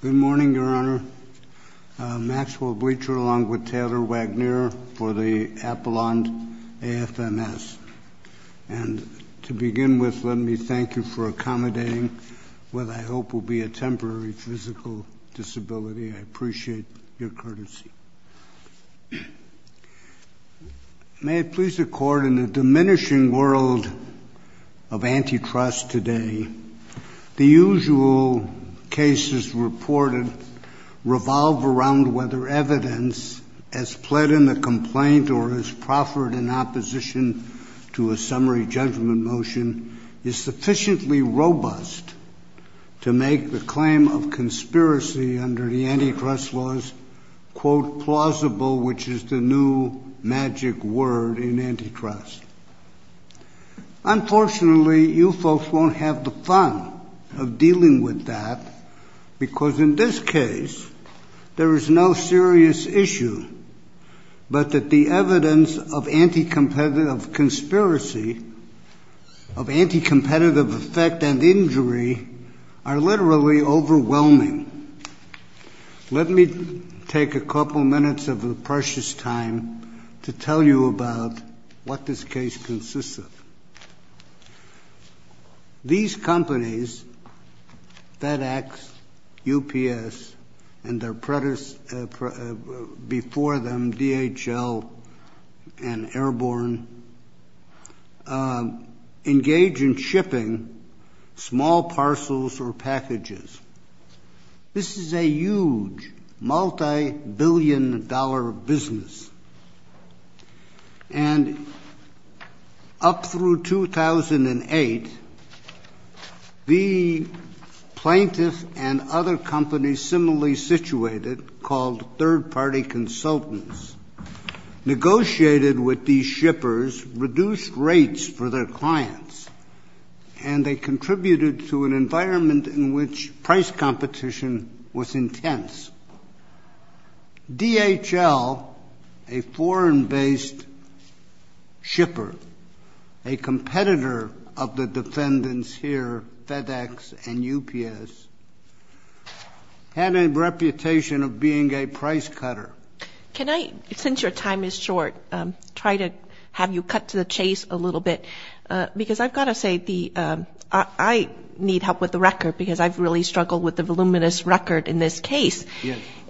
Good morning, Your Honor. Maxwell Bleacher along with Taylor Wagner for the Apollon AFMS. And to begin with, let me thank you for accommodating what I hope will be a temporary physical disability. I appreciate your courtesy. May it please the Court, in the diminishing world of antitrust today, the usual cases reported revolve around whether evidence, as pled in the complaint or as proffered in opposition to a summary judgment motion, is sufficiently robust to make the claim of conspiracy under the antitrust laws, quote, plausible, which is the new magic word in antitrust. Unfortunately, you folks won't have the fun of dealing with that, because in this case there is no serious issue but that the evidence of anti-competitive conspiracy, of anti-competitive effect and injury, are literally overwhelming. Let me take a couple minutes of precious time to tell you about what this case consists of. These companies, FedEx, UPS, and their predecessors before them, DHL and Airborne, engage in shipping small parcels or packages. This is a huge, multibillion-dollar business. And up through 2008, the plaintiffs and other companies similarly situated, called third-party consultants, negotiated with these shippers reduced rates for their clients, and they contributed to an environment in which price competition was intense. DHL, a foreign-based shipper, a competitor of the defendants here, FedEx and UPS, had a reputation of being a price cutter. Can I, since your time is short, try to have you cut to the chase a little bit? Because I've got to say, I need help with the record because I've really struggled with the voluminous record in this case.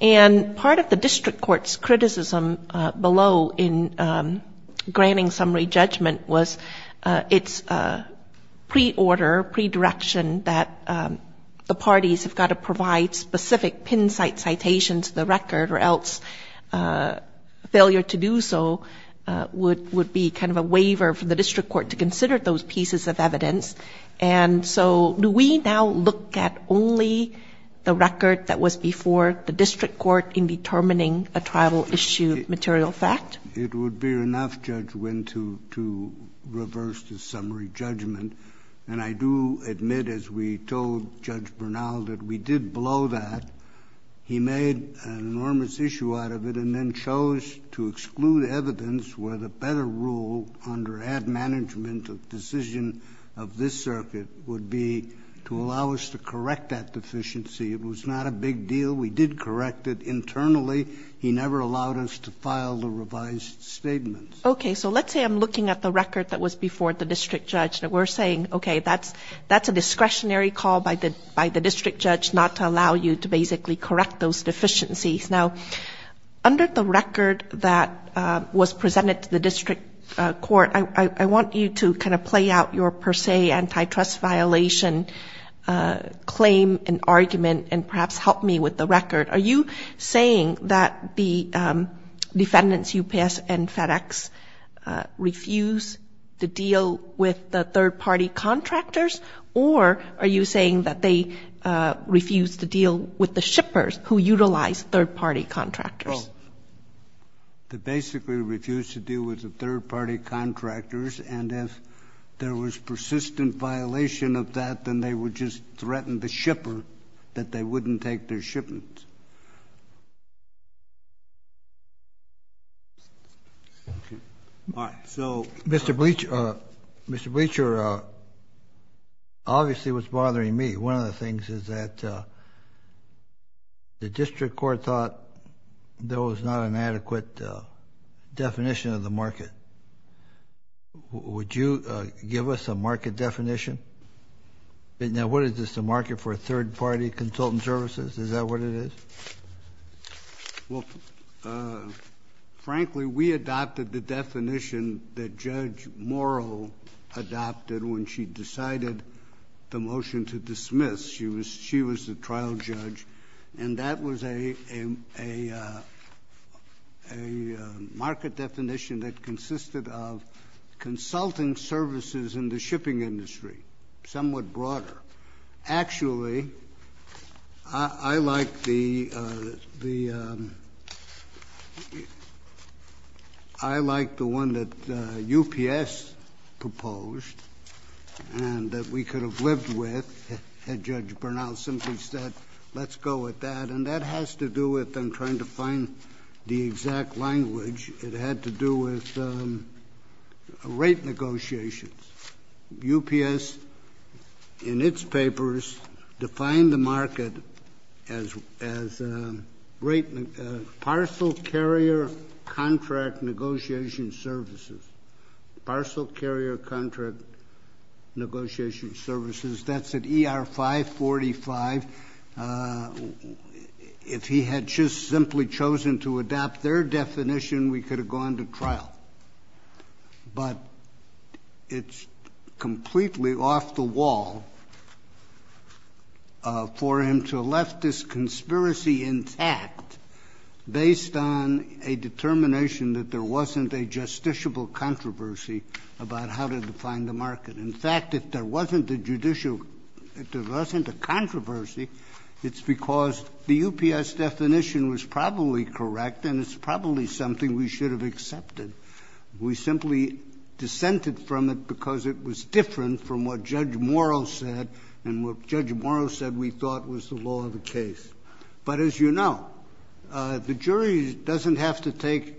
And part of the district court's criticism below in granting summary judgment was its pre-order, pre-direction, that the parties have got to provide specific pin-site citations to the record or else failure to do so would be kind of a waiver for the district court to consider those pieces of evidence. And so do we now look at only the record that was before the district court in determining a trial-issued material fact? It would be enough, Judge Winn, to reverse the summary judgment. And I do admit, as we told Judge Bernal, that we did below that. He made an enormous issue out of it and then chose to exclude evidence where the better rule under ad management decision of this circuit would be to allow us to correct that deficiency. It was not a big deal. We did correct it internally. He never allowed us to file the revised statement. Okay. So let's say I'm looking at the record that was before the district judge and we're saying, okay, that's a discretionary call by the district judge not to allow you to basically correct those deficiencies. Now, under the record that was presented to the district court, I want you to kind of play out your per se antitrust violation claim and argument and perhaps help me with the record. Are you saying that the defendants, UPS and FedEx, refuse to deal with the third-party contractors or are you saying that they refuse to deal with the shippers who utilize third-party contractors? They basically refuse to deal with the third-party contractors and if there was persistent violation of that, then they would just threaten the shipper that they wouldn't take their shipments. Thank you. All right. So Mr. Bleacher, obviously what's bothering me, one of the things is that the district court thought there was not an adequate definition of the market. Would you give us a market definition? Now, what is this, a market for third-party consultant services? Is that what it is? Well, frankly, we adopted the definition that Judge Morrill adopted when she decided the motion to dismiss. She was the trial judge, and that was a market definition that consisted of consulting services in the shipping industry, somewhat broader. Actually, I like the one that UPS proposed and that we could have lived with had Judge Bernal simply said, let's go with that, and that has to do with them trying to find the exact language. It had to do with rate negotiations. UPS, in its papers, defined the market as great parcel carrier contract negotiation services. Parcel carrier contract negotiation services. That's at ER 545. If he had just simply chosen to adopt their definition, we could have gone to trial. But it's completely off the wall for him to left this conspiracy intact based on a determination that there wasn't a justiciable controversy about how to define the market. In fact, if there wasn't a judicial, if there wasn't a controversy, it's because the UPS definition was probably correct and it's probably something we should have accepted. We simply dissented from it because it was different from what Judge Morrow said and what Judge Morrow said we thought was the law of the case. But as you know, the jury doesn't have to take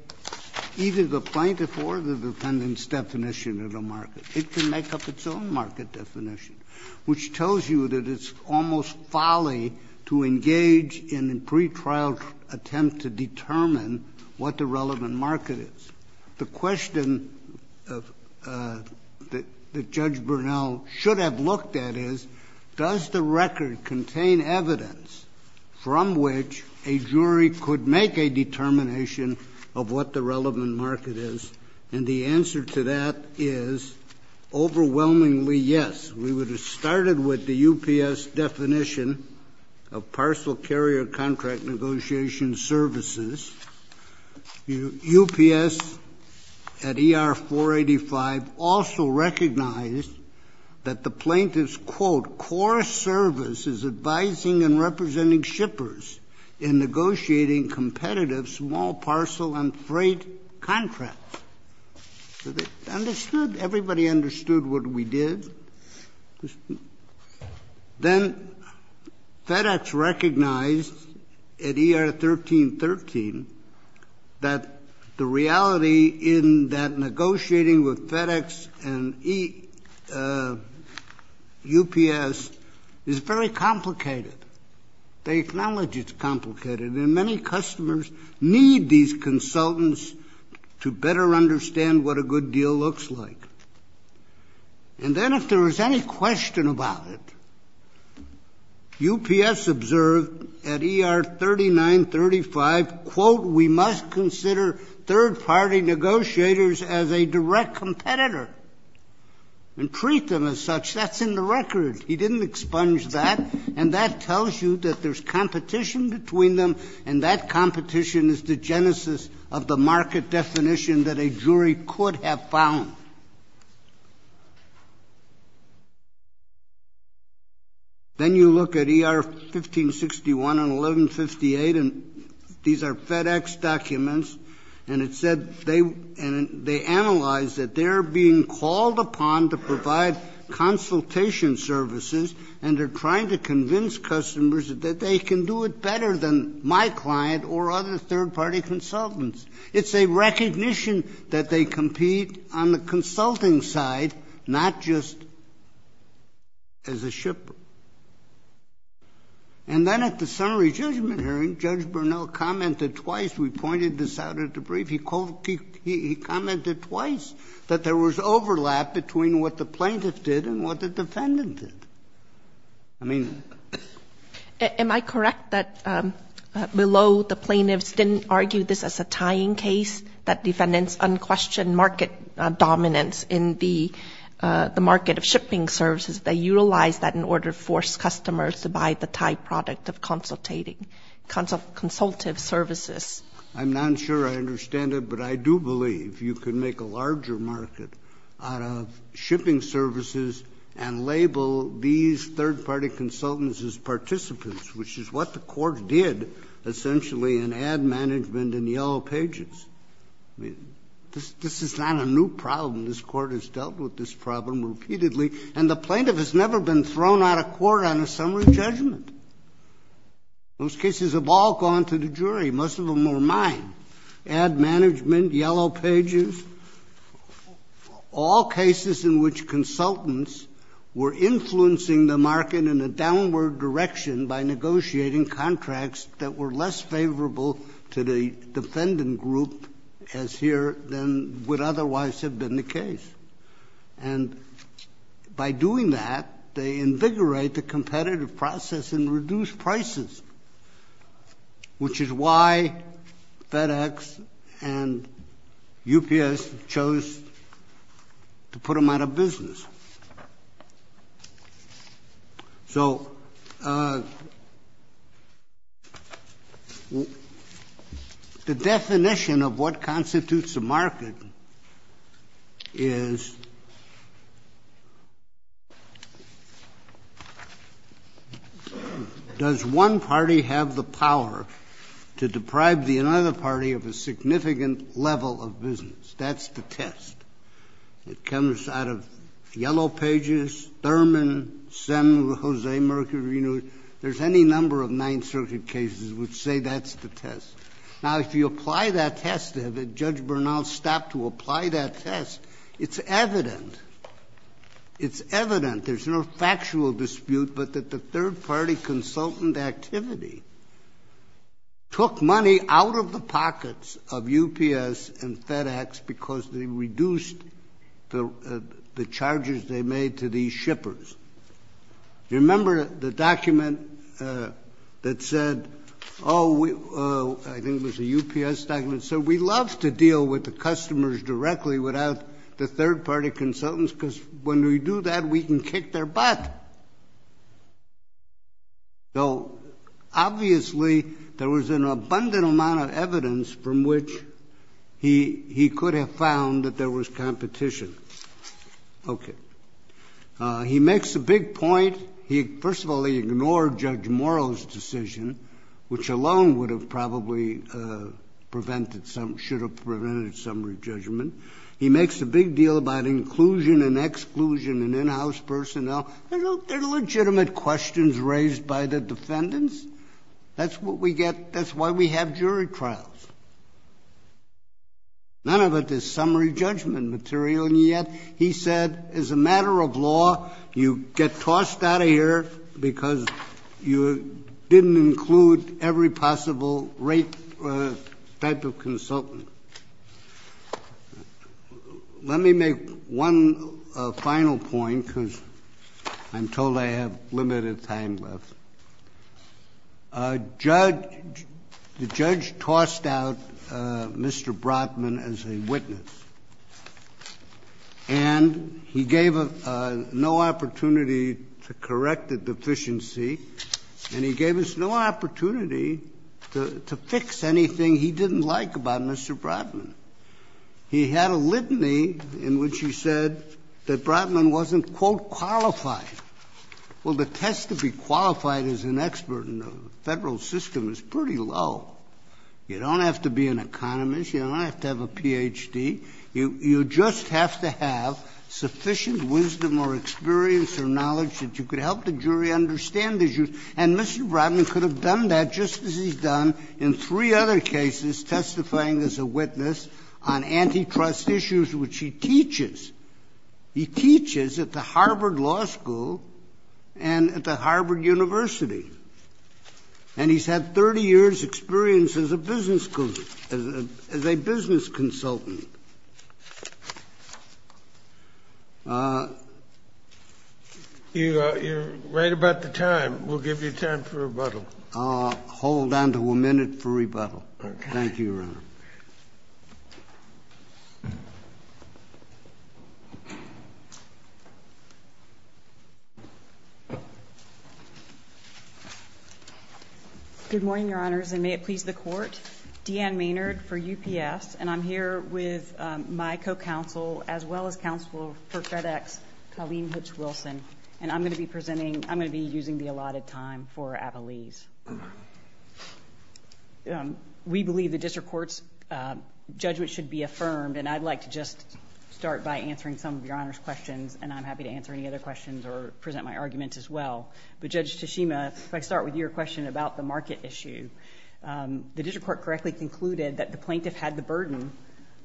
either the plaintiff or the defendant's definition of the market. It can make up its own market definition, which tells you that it's almost folly to engage in a pretrial attempt to determine what the relevant market is. The question that Judge Bernal should have looked at is, does the record contain evidence from which a jury could make a determination of what the relevant market is? And the answer to that is overwhelmingly yes. We would have started with the UPS definition of parcel carrier contract negotiation services. UPS at ER 485 also recognized that the plaintiff's, quote, core service is advising and representing shippers in negotiating competitive small parcel and freight contracts. So they understood. Everybody understood what we did. Then FedEx recognized at ER 1313 that the reality in that negotiating with FedEx and UPS is very complicated. They acknowledge it's complicated, and many customers need these consultants to better understand what a good deal looks like. And then if there was any question about it, UPS observed at ER 3935, quote, we must consider third-party negotiators as a direct competitor and treat them as such. That's in the record. He didn't expunge that. And that tells you that there's competition between them, and that competition is the genesis of the market definition that a jury could have found. Then you look at ER 1561 and 1158, and these are FedEx documents, and it said they analyzed that they're being called upon to provide consultation services, and they're trying to convince customers that they can do it better than my client or other third-party consultants. It's a recognition that they compete on the consulting side, not just as a shipper. And then at the summary judgment hearing, Judge Bernal commented twice. We pointed this out at the brief. He commented twice that there was overlap between what the plaintiff did and what the defendant did. I mean... Am I correct that below the plaintiffs didn't argue this as a tying case, that defendants unquestioned market dominance in the market of shipping services? They utilized that in order to force customers to buy the Thai product of consultative services. I'm not sure I understand it, but I do believe you can make a larger market out of shipping services and label these third-party consultants as participants, which is what the Court did essentially in ad management and yellow pages. I mean, this is not a new problem. This Court has dealt with this problem repeatedly, and the plaintiff has never been thrown out of court on a summary judgment. Those cases have all gone to the jury. Most of them were mine. Ad management, yellow pages, all cases in which consultants were influencing the market in a downward direction by negotiating contracts that were less favorable to the defendant group as here than would otherwise have been the case. And by doing that, they invigorate the competitive process and reduce prices, which is why FedEx and UPS chose to put them out of business. So the definition of what constitutes a market is does one party have the power to deprive the other party of a significant level of business. That's the test. It comes out of yellow pages, Thurman, Sem, Jose, Mercury. There's any number of Ninth Circuit cases which say that's the test. Now, if you apply that test, if Judge Bernal stopped to apply that test, it's evident. It's evident. There's no factual dispute, but that the third-party consultant activity took money out of the charges they made to these shippers. Do you remember the document that said, oh, I think it was a UPS document, said we love to deal with the customers directly without the third-party consultants because when we do that, we can kick their butt. So, obviously, there was an abundant amount of evidence from which he could have found that there was competition. Okay. He makes a big point. First of all, he ignored Judge Morrow's decision, which alone would have probably prevented some, should have prevented summary judgment. He makes a big deal about inclusion and exclusion and in-house personnel. They're legitimate questions raised by the defendants. That's what we get. That's why we have jury trials. None of it is summary judgment material. And yet he said, as a matter of law, you get tossed out of here because you didn't include every possible rate type of consultant. Let me make one final point because I'm told I have limited time left. Judge — the judge tossed out Mr. Brotman as a witness, and he gave no opportunity to correct the deficiency, and he gave us no opportunity to fix anything he didn't like about Mr. Brotman. He had a litany in which he said that Brotman wasn't, quote, qualified. Well, the test to be qualified as an expert in the Federal system is pretty low. You don't have to be an economist. You don't have to have a Ph.D. You just have to have sufficient wisdom or experience or knowledge that you could help the jury understand the issues. And Mr. Brotman could have done that just as he's done in three other cases testifying as a witness on antitrust issues, which he teaches. He teaches at the Harvard Law School and at the Harvard University. And he's had 30 years' experience as a business consultant. You're right about the time. We'll give you time for rebuttal. I'll hold on to a minute for rebuttal. Okay. Thank you, Your Honor. Good morning, Your Honors, and may it please the Court. Deanne Maynard for UPS, and I'm here with my co-counsel as well as counsel for FedEx, Colleen Hutch Wilson, and I'm going to be presenting. I'm going to be using the allotted time for Avalese. We believe the district court's judgment should be affirmed, and I'd like to just start by answering some of Your Honor's questions, and I'm happy to answer any other questions or present my arguments as well. But Judge Tashima, if I could start with your question about the market issue. The district court correctly concluded that the plaintiff had the burden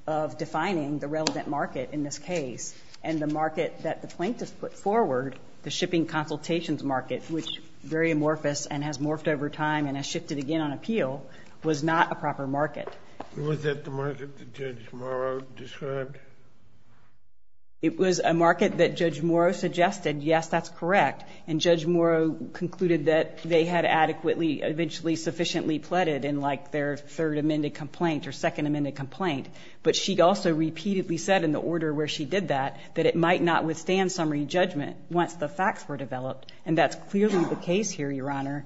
of defining the relevant market in this case, and the market that the plaintiff put forward, the shipping consultations market, which is very amorphous and has morphed over time and has shifted again on appeal, was not a proper market. Was that the market that Judge Morrow described? It was a market that Judge Morrow suggested. Yes, that's correct. And Judge Morrow concluded that they had adequately, eventually sufficiently pleaded in, like, their third amended complaint or second amended complaint. But she also repeatedly said in the order where she did that that it might not have been a market that the plaintiff had the burden of defining the relevant market. And that's clearly the case here, Your Honor.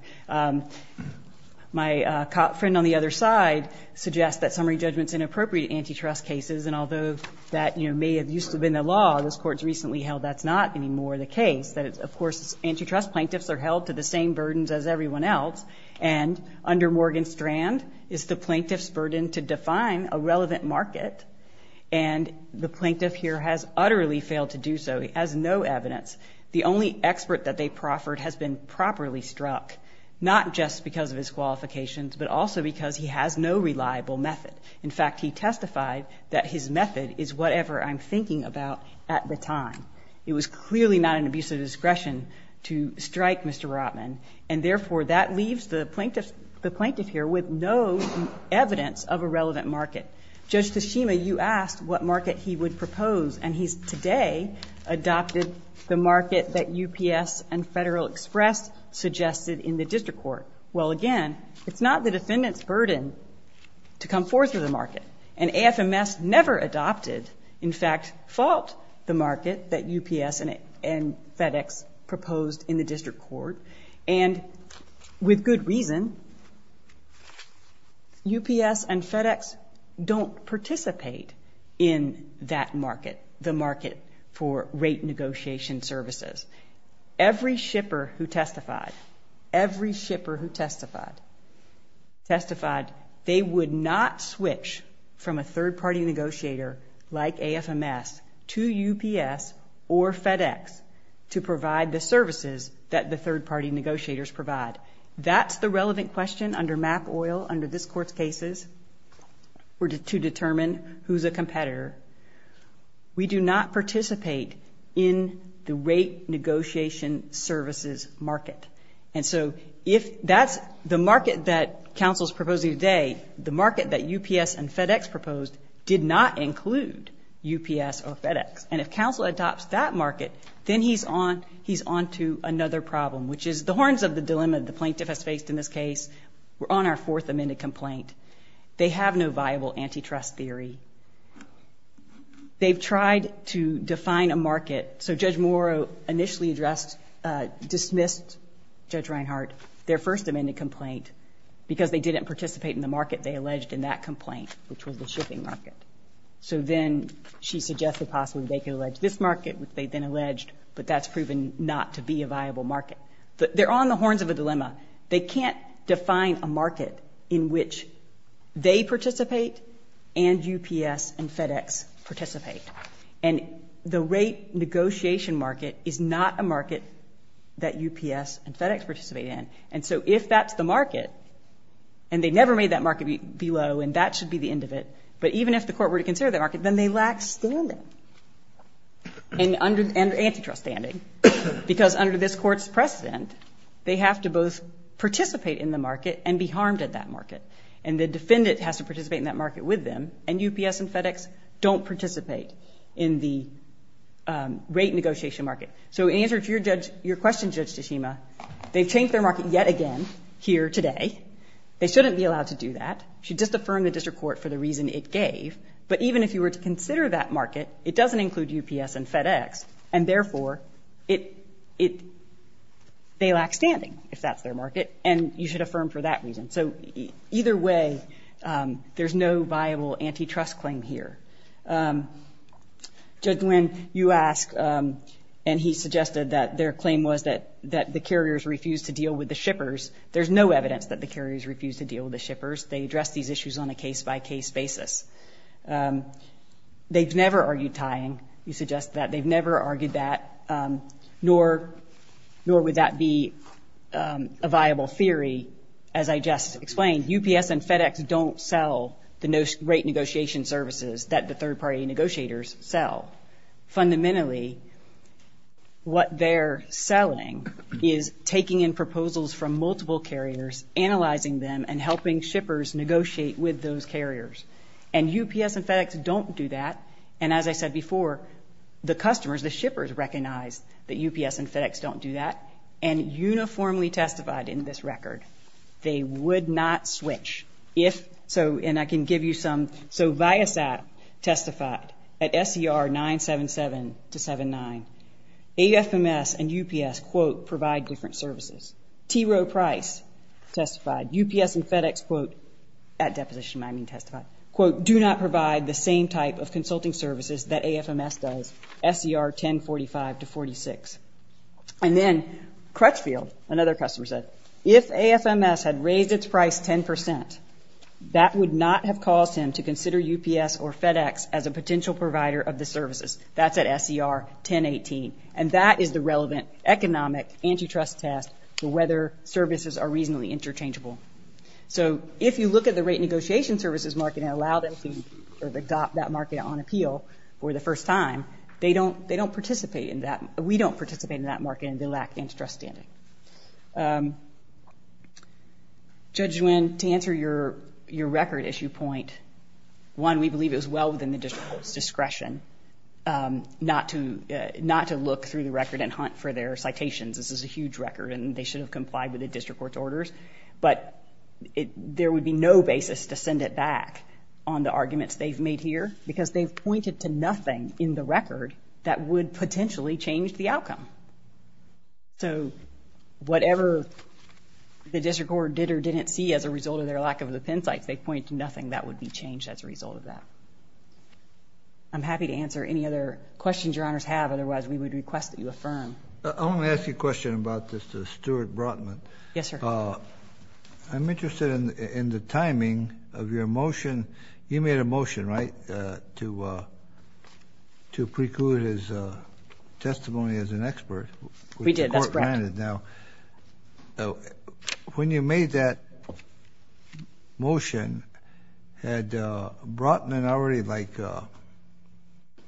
My friend on the other side suggests that summary judgment is inappropriate in antitrust cases, and although that may have used to have been the law, this Court's recently held that's not anymore the case, that, of course, antitrust plaintiffs are held to the same burdens as everyone else, and under Morgan-Strand is the plaintiff's burden to define a relevant market, and the plaintiff here has utterly failed to do so. He has no evidence. The only expert that they proffered has been properly struck, not just because of his qualifications, but also because he has no reliable method. In fact, he testified that his method is whatever I'm thinking about at the time. It was clearly not an abuse of discretion to strike Mr. Rotman, and therefore that leaves the plaintiff here with no evidence of a relevant market. Judge Tashima, you asked what market he would propose, and he today adopted the market that UPS and Federal Express suggested in the district court. Well, again, it's not the defendant's burden to come forth with a market, and AFMS never adopted, in fact, fought the market that UPS and FedEx proposed in the district court, and with good reason. UPS and FedEx don't participate in that market, the market for rate negotiation services. Every shipper who testified, every shipper who testified, testified they would not switch from a third-party negotiator like AFMS to UPS or FedEx to provide the services that the third-party negotiators provide. That's the relevant question under MAP-OIL, under this Court's cases, to determine who's a competitor. We do not participate in the rate negotiation services market. And so if that's the market that counsel's proposing today, the market that UPS and FedEx proposed did not include UPS or FedEx. And if counsel adopts that market, then he's on to another problem, which is the dilemma the plaintiff has faced in this case. We're on our fourth amended complaint. They have no viable antitrust theory. They've tried to define a market. So Judge Morrow initially addressed, dismissed, Judge Reinhardt, their first amended complaint, because they didn't participate in the market they alleged in that complaint, which was the shipping market. So then she suggested possibly they could allege this market, which they then alleged, but that's proven not to be a viable market. They're on the horns of a dilemma. They can't define a market in which they participate and UPS and FedEx participate. And the rate negotiation market is not a market that UPS and FedEx participate in. And so if that's the market, and they never made that market be low, and that should be the end of it, but even if the Court were to consider that market, then they lack standing and antitrust standing, because under this Court's precedent, they have to both participate in the market and be harmed at that market. And the defendant has to participate in that market with them, and UPS and FedEx don't participate in the rate negotiation market. So in answer to your question, Judge Tachima, they've changed their market yet again here today. They shouldn't be allowed to do that. They should just affirm the district court for the reason it gave, but even if you were to consider that market, it doesn't include UPS and FedEx, and therefore they lack standing, if that's their market, and you should affirm for that reason. So either way, there's no viable antitrust claim here. Judge Nguyen, you ask, and he suggested that their claim was that the carriers refused to deal with the shippers. They addressed these issues on a case-by-case basis. They've never argued tying. You suggest that they've never argued that, nor would that be a viable theory, as I just explained. UPS and FedEx don't sell the rate negotiation services that the third-party negotiators sell. Fundamentally, what they're selling is taking in proposals from multiple carriers, analyzing them, and helping shippers negotiate with those carriers, and UPS and FedEx don't do that, and as I said before, the customers, the shippers, recognize that UPS and FedEx don't do that and uniformly testified in this record they would not switch if so, and I can give you some. So Viasat testified at SER 977-79. AFMS and UPS, quote, provide different services. T. Rowe Price testified. UPS and FedEx, quote, at deposition, I mean testified, quote, do not provide the same type of consulting services that AFMS does, SER 1045-46. And then Crutchfield, another customer said, if AFMS had raised its price 10%, that would not have caused him to consider UPS or FedEx as a potential provider of the services. That's at SER 1018, and that is the relevant economic antitrust test for whether services are reasonably interchangeable. So if you look at the rate negotiation services market and allow them to adopt that market on appeal for the first time, they don't participate in that. We don't participate in that market and they lack antitrust standing. Judge Nguyen, to answer your record issue point, one, we believe it was well within the district's discretion not to look through the record and hunt for their citations. This is a huge record and they should have complied with the district court's orders. But there would be no basis to send it back on the arguments they've made here because they've pointed to nothing in the record that would potentially change the outcome. So whatever the district court did or didn't see as a result of their lack of the pen sites, they point to nothing that would be changed as a result of that. I'm happy to answer any other questions your honors have, otherwise we would request that you affirm. I want to ask you a question about this to Stuart Brotman. Yes, sir. I'm interested in the timing of your motion. You made a motion, right, to preclude his testimony as an expert. We did. That's correct. Now, when you made that motion, had Brotman already like,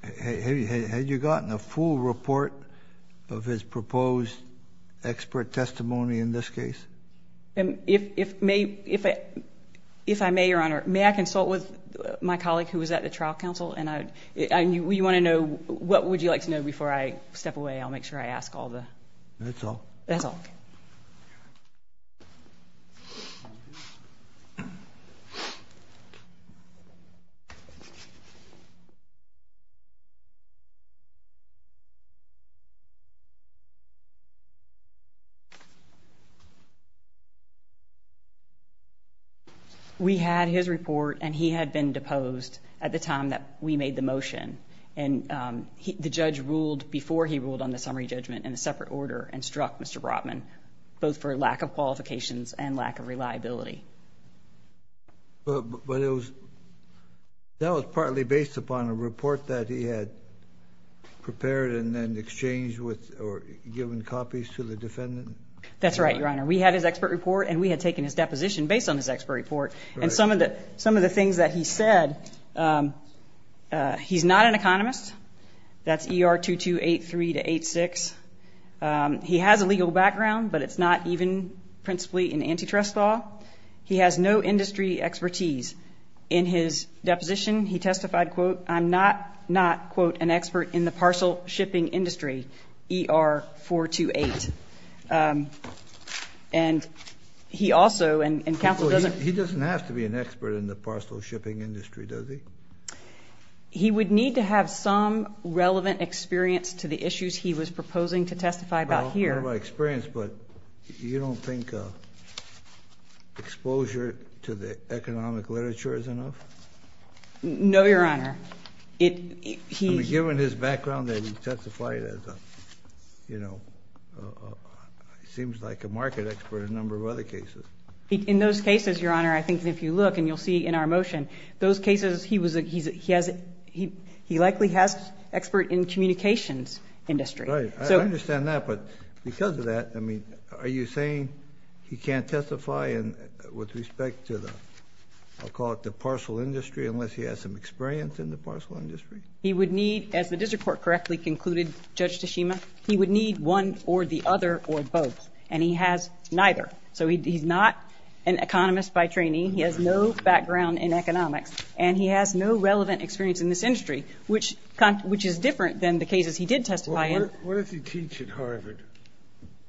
had you gotten a full report of his proposed expert testimony in this case? If I may, your honor, may I consult with my colleague who was at the trial council? You want to know, what would you like to know before I step away? I'll make sure I ask all the. That's all. That's all. Thank you. We had his report, and he had been deposed at the time that we made the motion. And the judge ruled before he ruled on the summary judgment in a separate order and struck Mr. Brotman, both for lack of qualifications and lack of reliability. But that was partly based upon a report that he had prepared and then exchanged with or given copies to the defendant? That's right, your honor. We had his expert report, and we had taken his deposition based on his expert report. And some of the things that he said, he's not an economist. That's ER 2283 to 86. He has a legal background, but it's not even principally an antitrust law. He has no industry expertise. In his deposition, he testified, quote, I'm not, quote, an expert in the parcel shipping industry, ER 428. And he also, and counsel doesn't He doesn't have to be an expert in the parcel shipping industry, does he? He would need to have some relevant experience to the issues he was proposing to testify about here. Well, I have my experience, but you don't think exposure to the economic literature is enough? No, your honor. Given his background, that he testified as a, you know, seems like a market expert in a number of other cases. In those cases, your honor, I think if you look, and you'll see in our motion, those cases, he likely has expert in communications industry. Right. I understand that, but because of that, I mean, are you saying he can't testify with respect to the, I'll call it the parcel industry, unless he has some experience in the parcel industry? He would need, as the district court correctly concluded, Judge Tashima, he would need one or the other or both. And he has neither. So he's not an economist by training. He has no background in economics, and he has no relevant experience in this industry, which is different than the cases he did testify in. What did he teach at Harvard?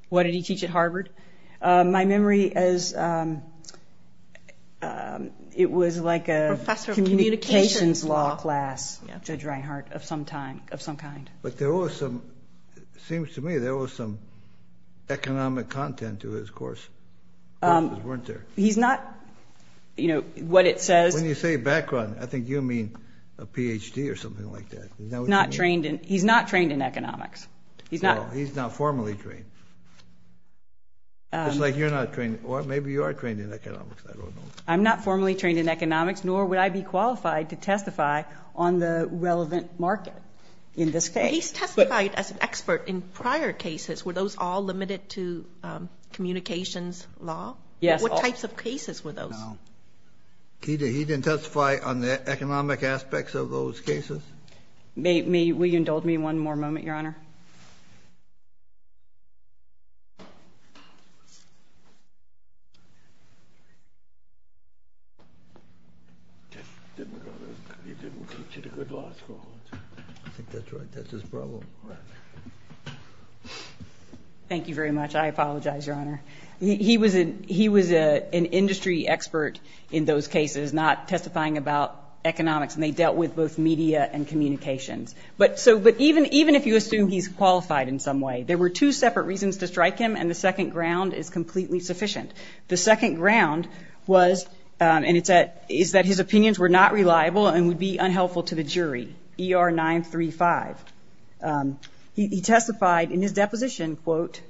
What did he teach at Harvard? My memory is it was like a communications law class, Judge Reinhart, of some kind. But there was some, it seems to me there was some economic content to his course. He's not, you know, what it says. When you say background, I think you mean a Ph.D. or something like that. He's not trained in economics. He's not formally trained. It's like you're not trained, or maybe you are trained in economics. I don't know. I'm not formally trained in economics, nor would I be qualified to testify on the relevant market in this case. He's testified as an expert in prior cases. Were those all limited to communications law? Yes. What types of cases were those? No. He didn't testify on the economic aspects of those cases? Will you indulge me one more moment, Your Honor? I think that's right. That's his problem. Right. Thank you very much. I apologize, Your Honor. He was an industry expert in those cases, not testifying about economics, and they dealt with both media and communications. I don't know. There were two separate reasons to strike him, and the second ground is completely sufficient. The second ground was, and it's that his opinions were not reliable and would be unhelpful to the jury, ER 935. He testified in his deposition, quote,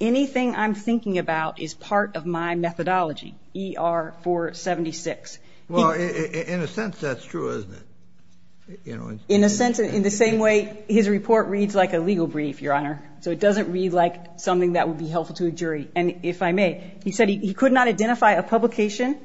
anything I'm thinking about is part of my methodology, ER 476. Well, in a sense, that's true, isn't it? In the same way his report reads like a legal brief, Your Honor, so it doesn't read like something that would be helpful to a jury. And if I may, he said he could not identify a publication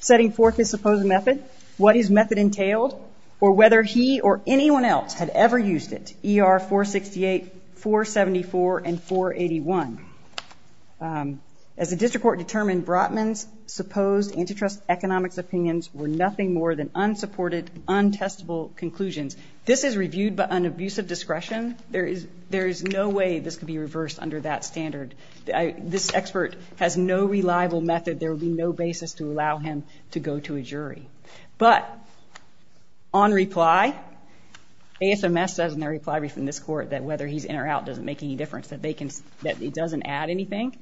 setting forth his supposed method, what his method entailed, or whether he or anyone else had ever used it, ER 468, 474, and 481. As the district court determined, Brotman's supposed antitrust economics opinions were nothing more than This is reviewed by an abusive discretion. There is no way this could be reversed under that standard. This expert has no reliable method. There would be no basis to allow him to go to a jury. But on reply, ASMS says in their reply brief in this court that whether he's in or out doesn't make any difference, that it doesn't add anything,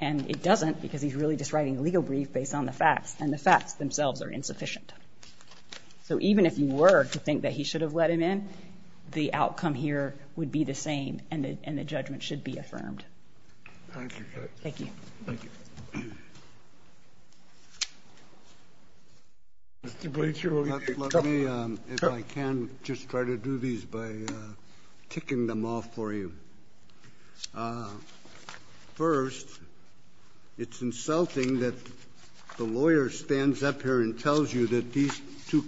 and it doesn't because he's really just writing a legal brief based on the facts, and the facts themselves are insufficient. So even if you were to think that he should have let him in, the outcome here would be the same, and the judgment should be affirmed. Thank you, Judge. Thank you. Thank you. Mr. Bleeker. Let me, if I can, just try to do these by ticking them off for you. First, it's insulting that the lawyer stands up here and tells you that these two,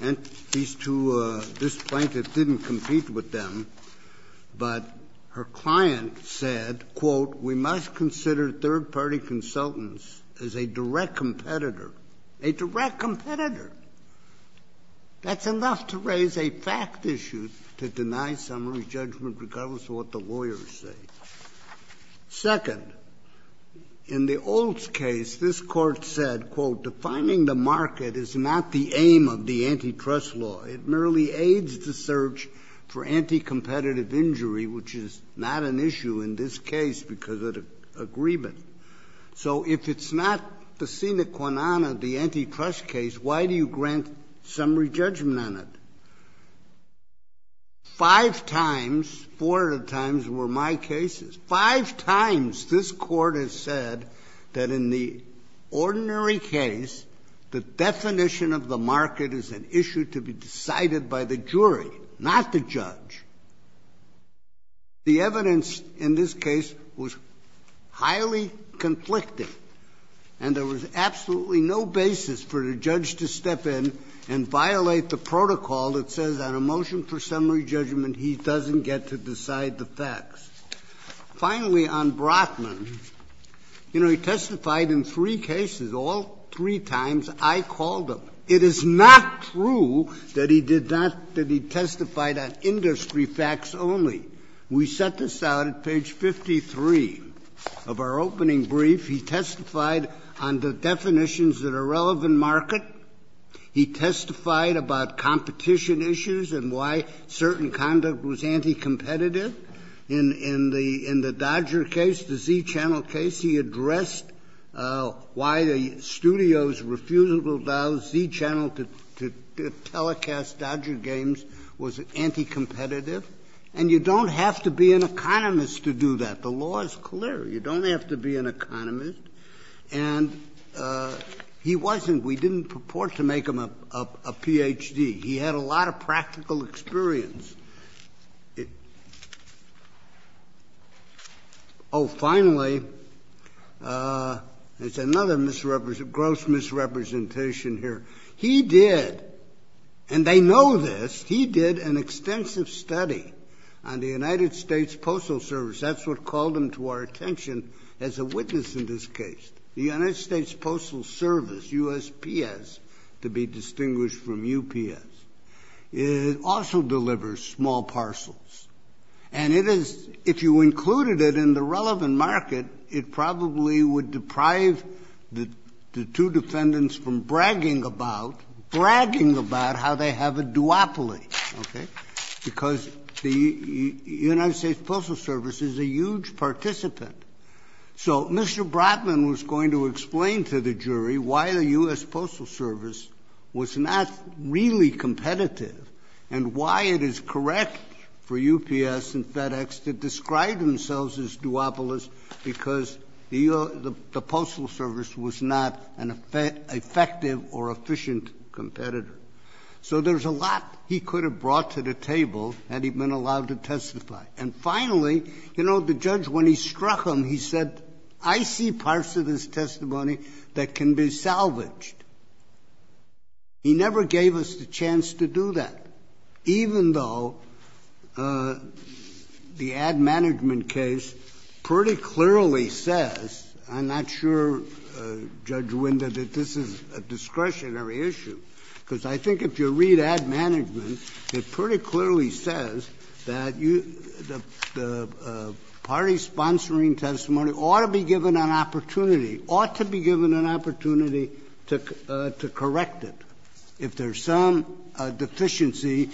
this plaintiff didn't compete with them, but her client said, quote, we must consider third-party consultants as a direct competitor. A direct competitor. That's enough to raise a fact issue to deny summary judgment regardless of what the lawyers say. Second, in the Olds case this Court said, quote, defining the market is not the aim of the antitrust law. It merely aids the search for anticompetitive injury, which is not an issue in this case because of the agreement. So if it's not the sine qua non of the antitrust case, why do you grant summary judgment on it? Five times, four times were my cases. Five times this Court has said that in the ordinary case, the definition of the market is an issue to be decided by the jury, not the judge. The evidence in this case was highly conflicting, and there was absolutely no basis for the judge to step in and violate the protocol that says on a motion for summary judgment, he doesn't get to decide the facts. Finally, on Brotman, you know, he testified in three cases. All three times I called him. It is not true that he did not, that he testified on industry facts only. We set this out at page 53 of our opening brief. He testified on the definitions that are relevant market. He testified about competition issues and why certain conduct was anticompetitive. In the Dodger case, the Z Channel case, he addressed why the studio's refusal to allow Z Channel to telecast Dodger games was anticompetitive. And you don't have to be an economist to do that. The law is clear. You don't have to be an economist. And he wasn't. We didn't purport to make him a Ph.D. He had a lot of practical experience. Oh, finally, there's another gross misrepresentation here. He did, and they know this, he did an extensive study on the United States Postal Service. That's what called him to our attention as a witness in this case. The United States Postal Service, USPS, to be distinguished from UPS, also delivers small parcels. And it is, if you included it in the relevant market, it probably would deprive the two defendants from bragging about, bragging about how they have a duopoly, okay, because the United States Postal Service is a huge participant. So Mr. Bratman was going to explain to the jury why the U.S. Postal Service was not really competitive and why it is correct for UPS and FedEx to describe themselves as duopolist because the Postal Service was not an effective or efficient competitor. So there's a lot he could have brought to the table had he been allowed to testify. And finally, you know, the judge, when he struck him, he said, I see parts of his testimony that can be salvaged. He never gave us the chance to do that, even though the ad management case pretty clearly says, I'm not sure, Judge Winder, that this is a discretionary issue, because I think if you read ad management, it pretty clearly says that the party sponsoring testimony ought to be given an opportunity, ought to be given an opportunity to correct it. If there's some deficiency,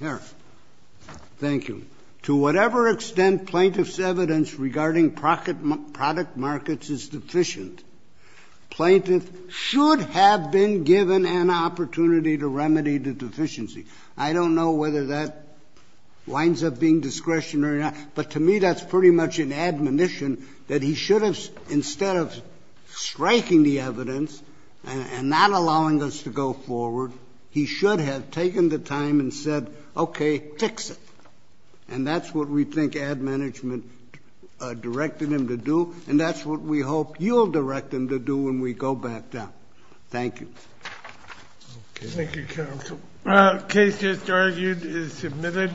here. Thank you. To whatever extent plaintiff's evidence regarding product markets is deficient, plaintiff should have been given an opportunity to remedy the deficiency. I don't know whether that winds up being discretionary or not, but to me that's pretty much an admonition that he should have, instead of striking the evidence and not allowing us to go forward, he should have taken the time and said, okay, fix it. And that's what we think ad management directed him to do, and that's what we hope you'll direct him to do when we go back down. Thank you. Thank you, counsel. Case just argued is submitted.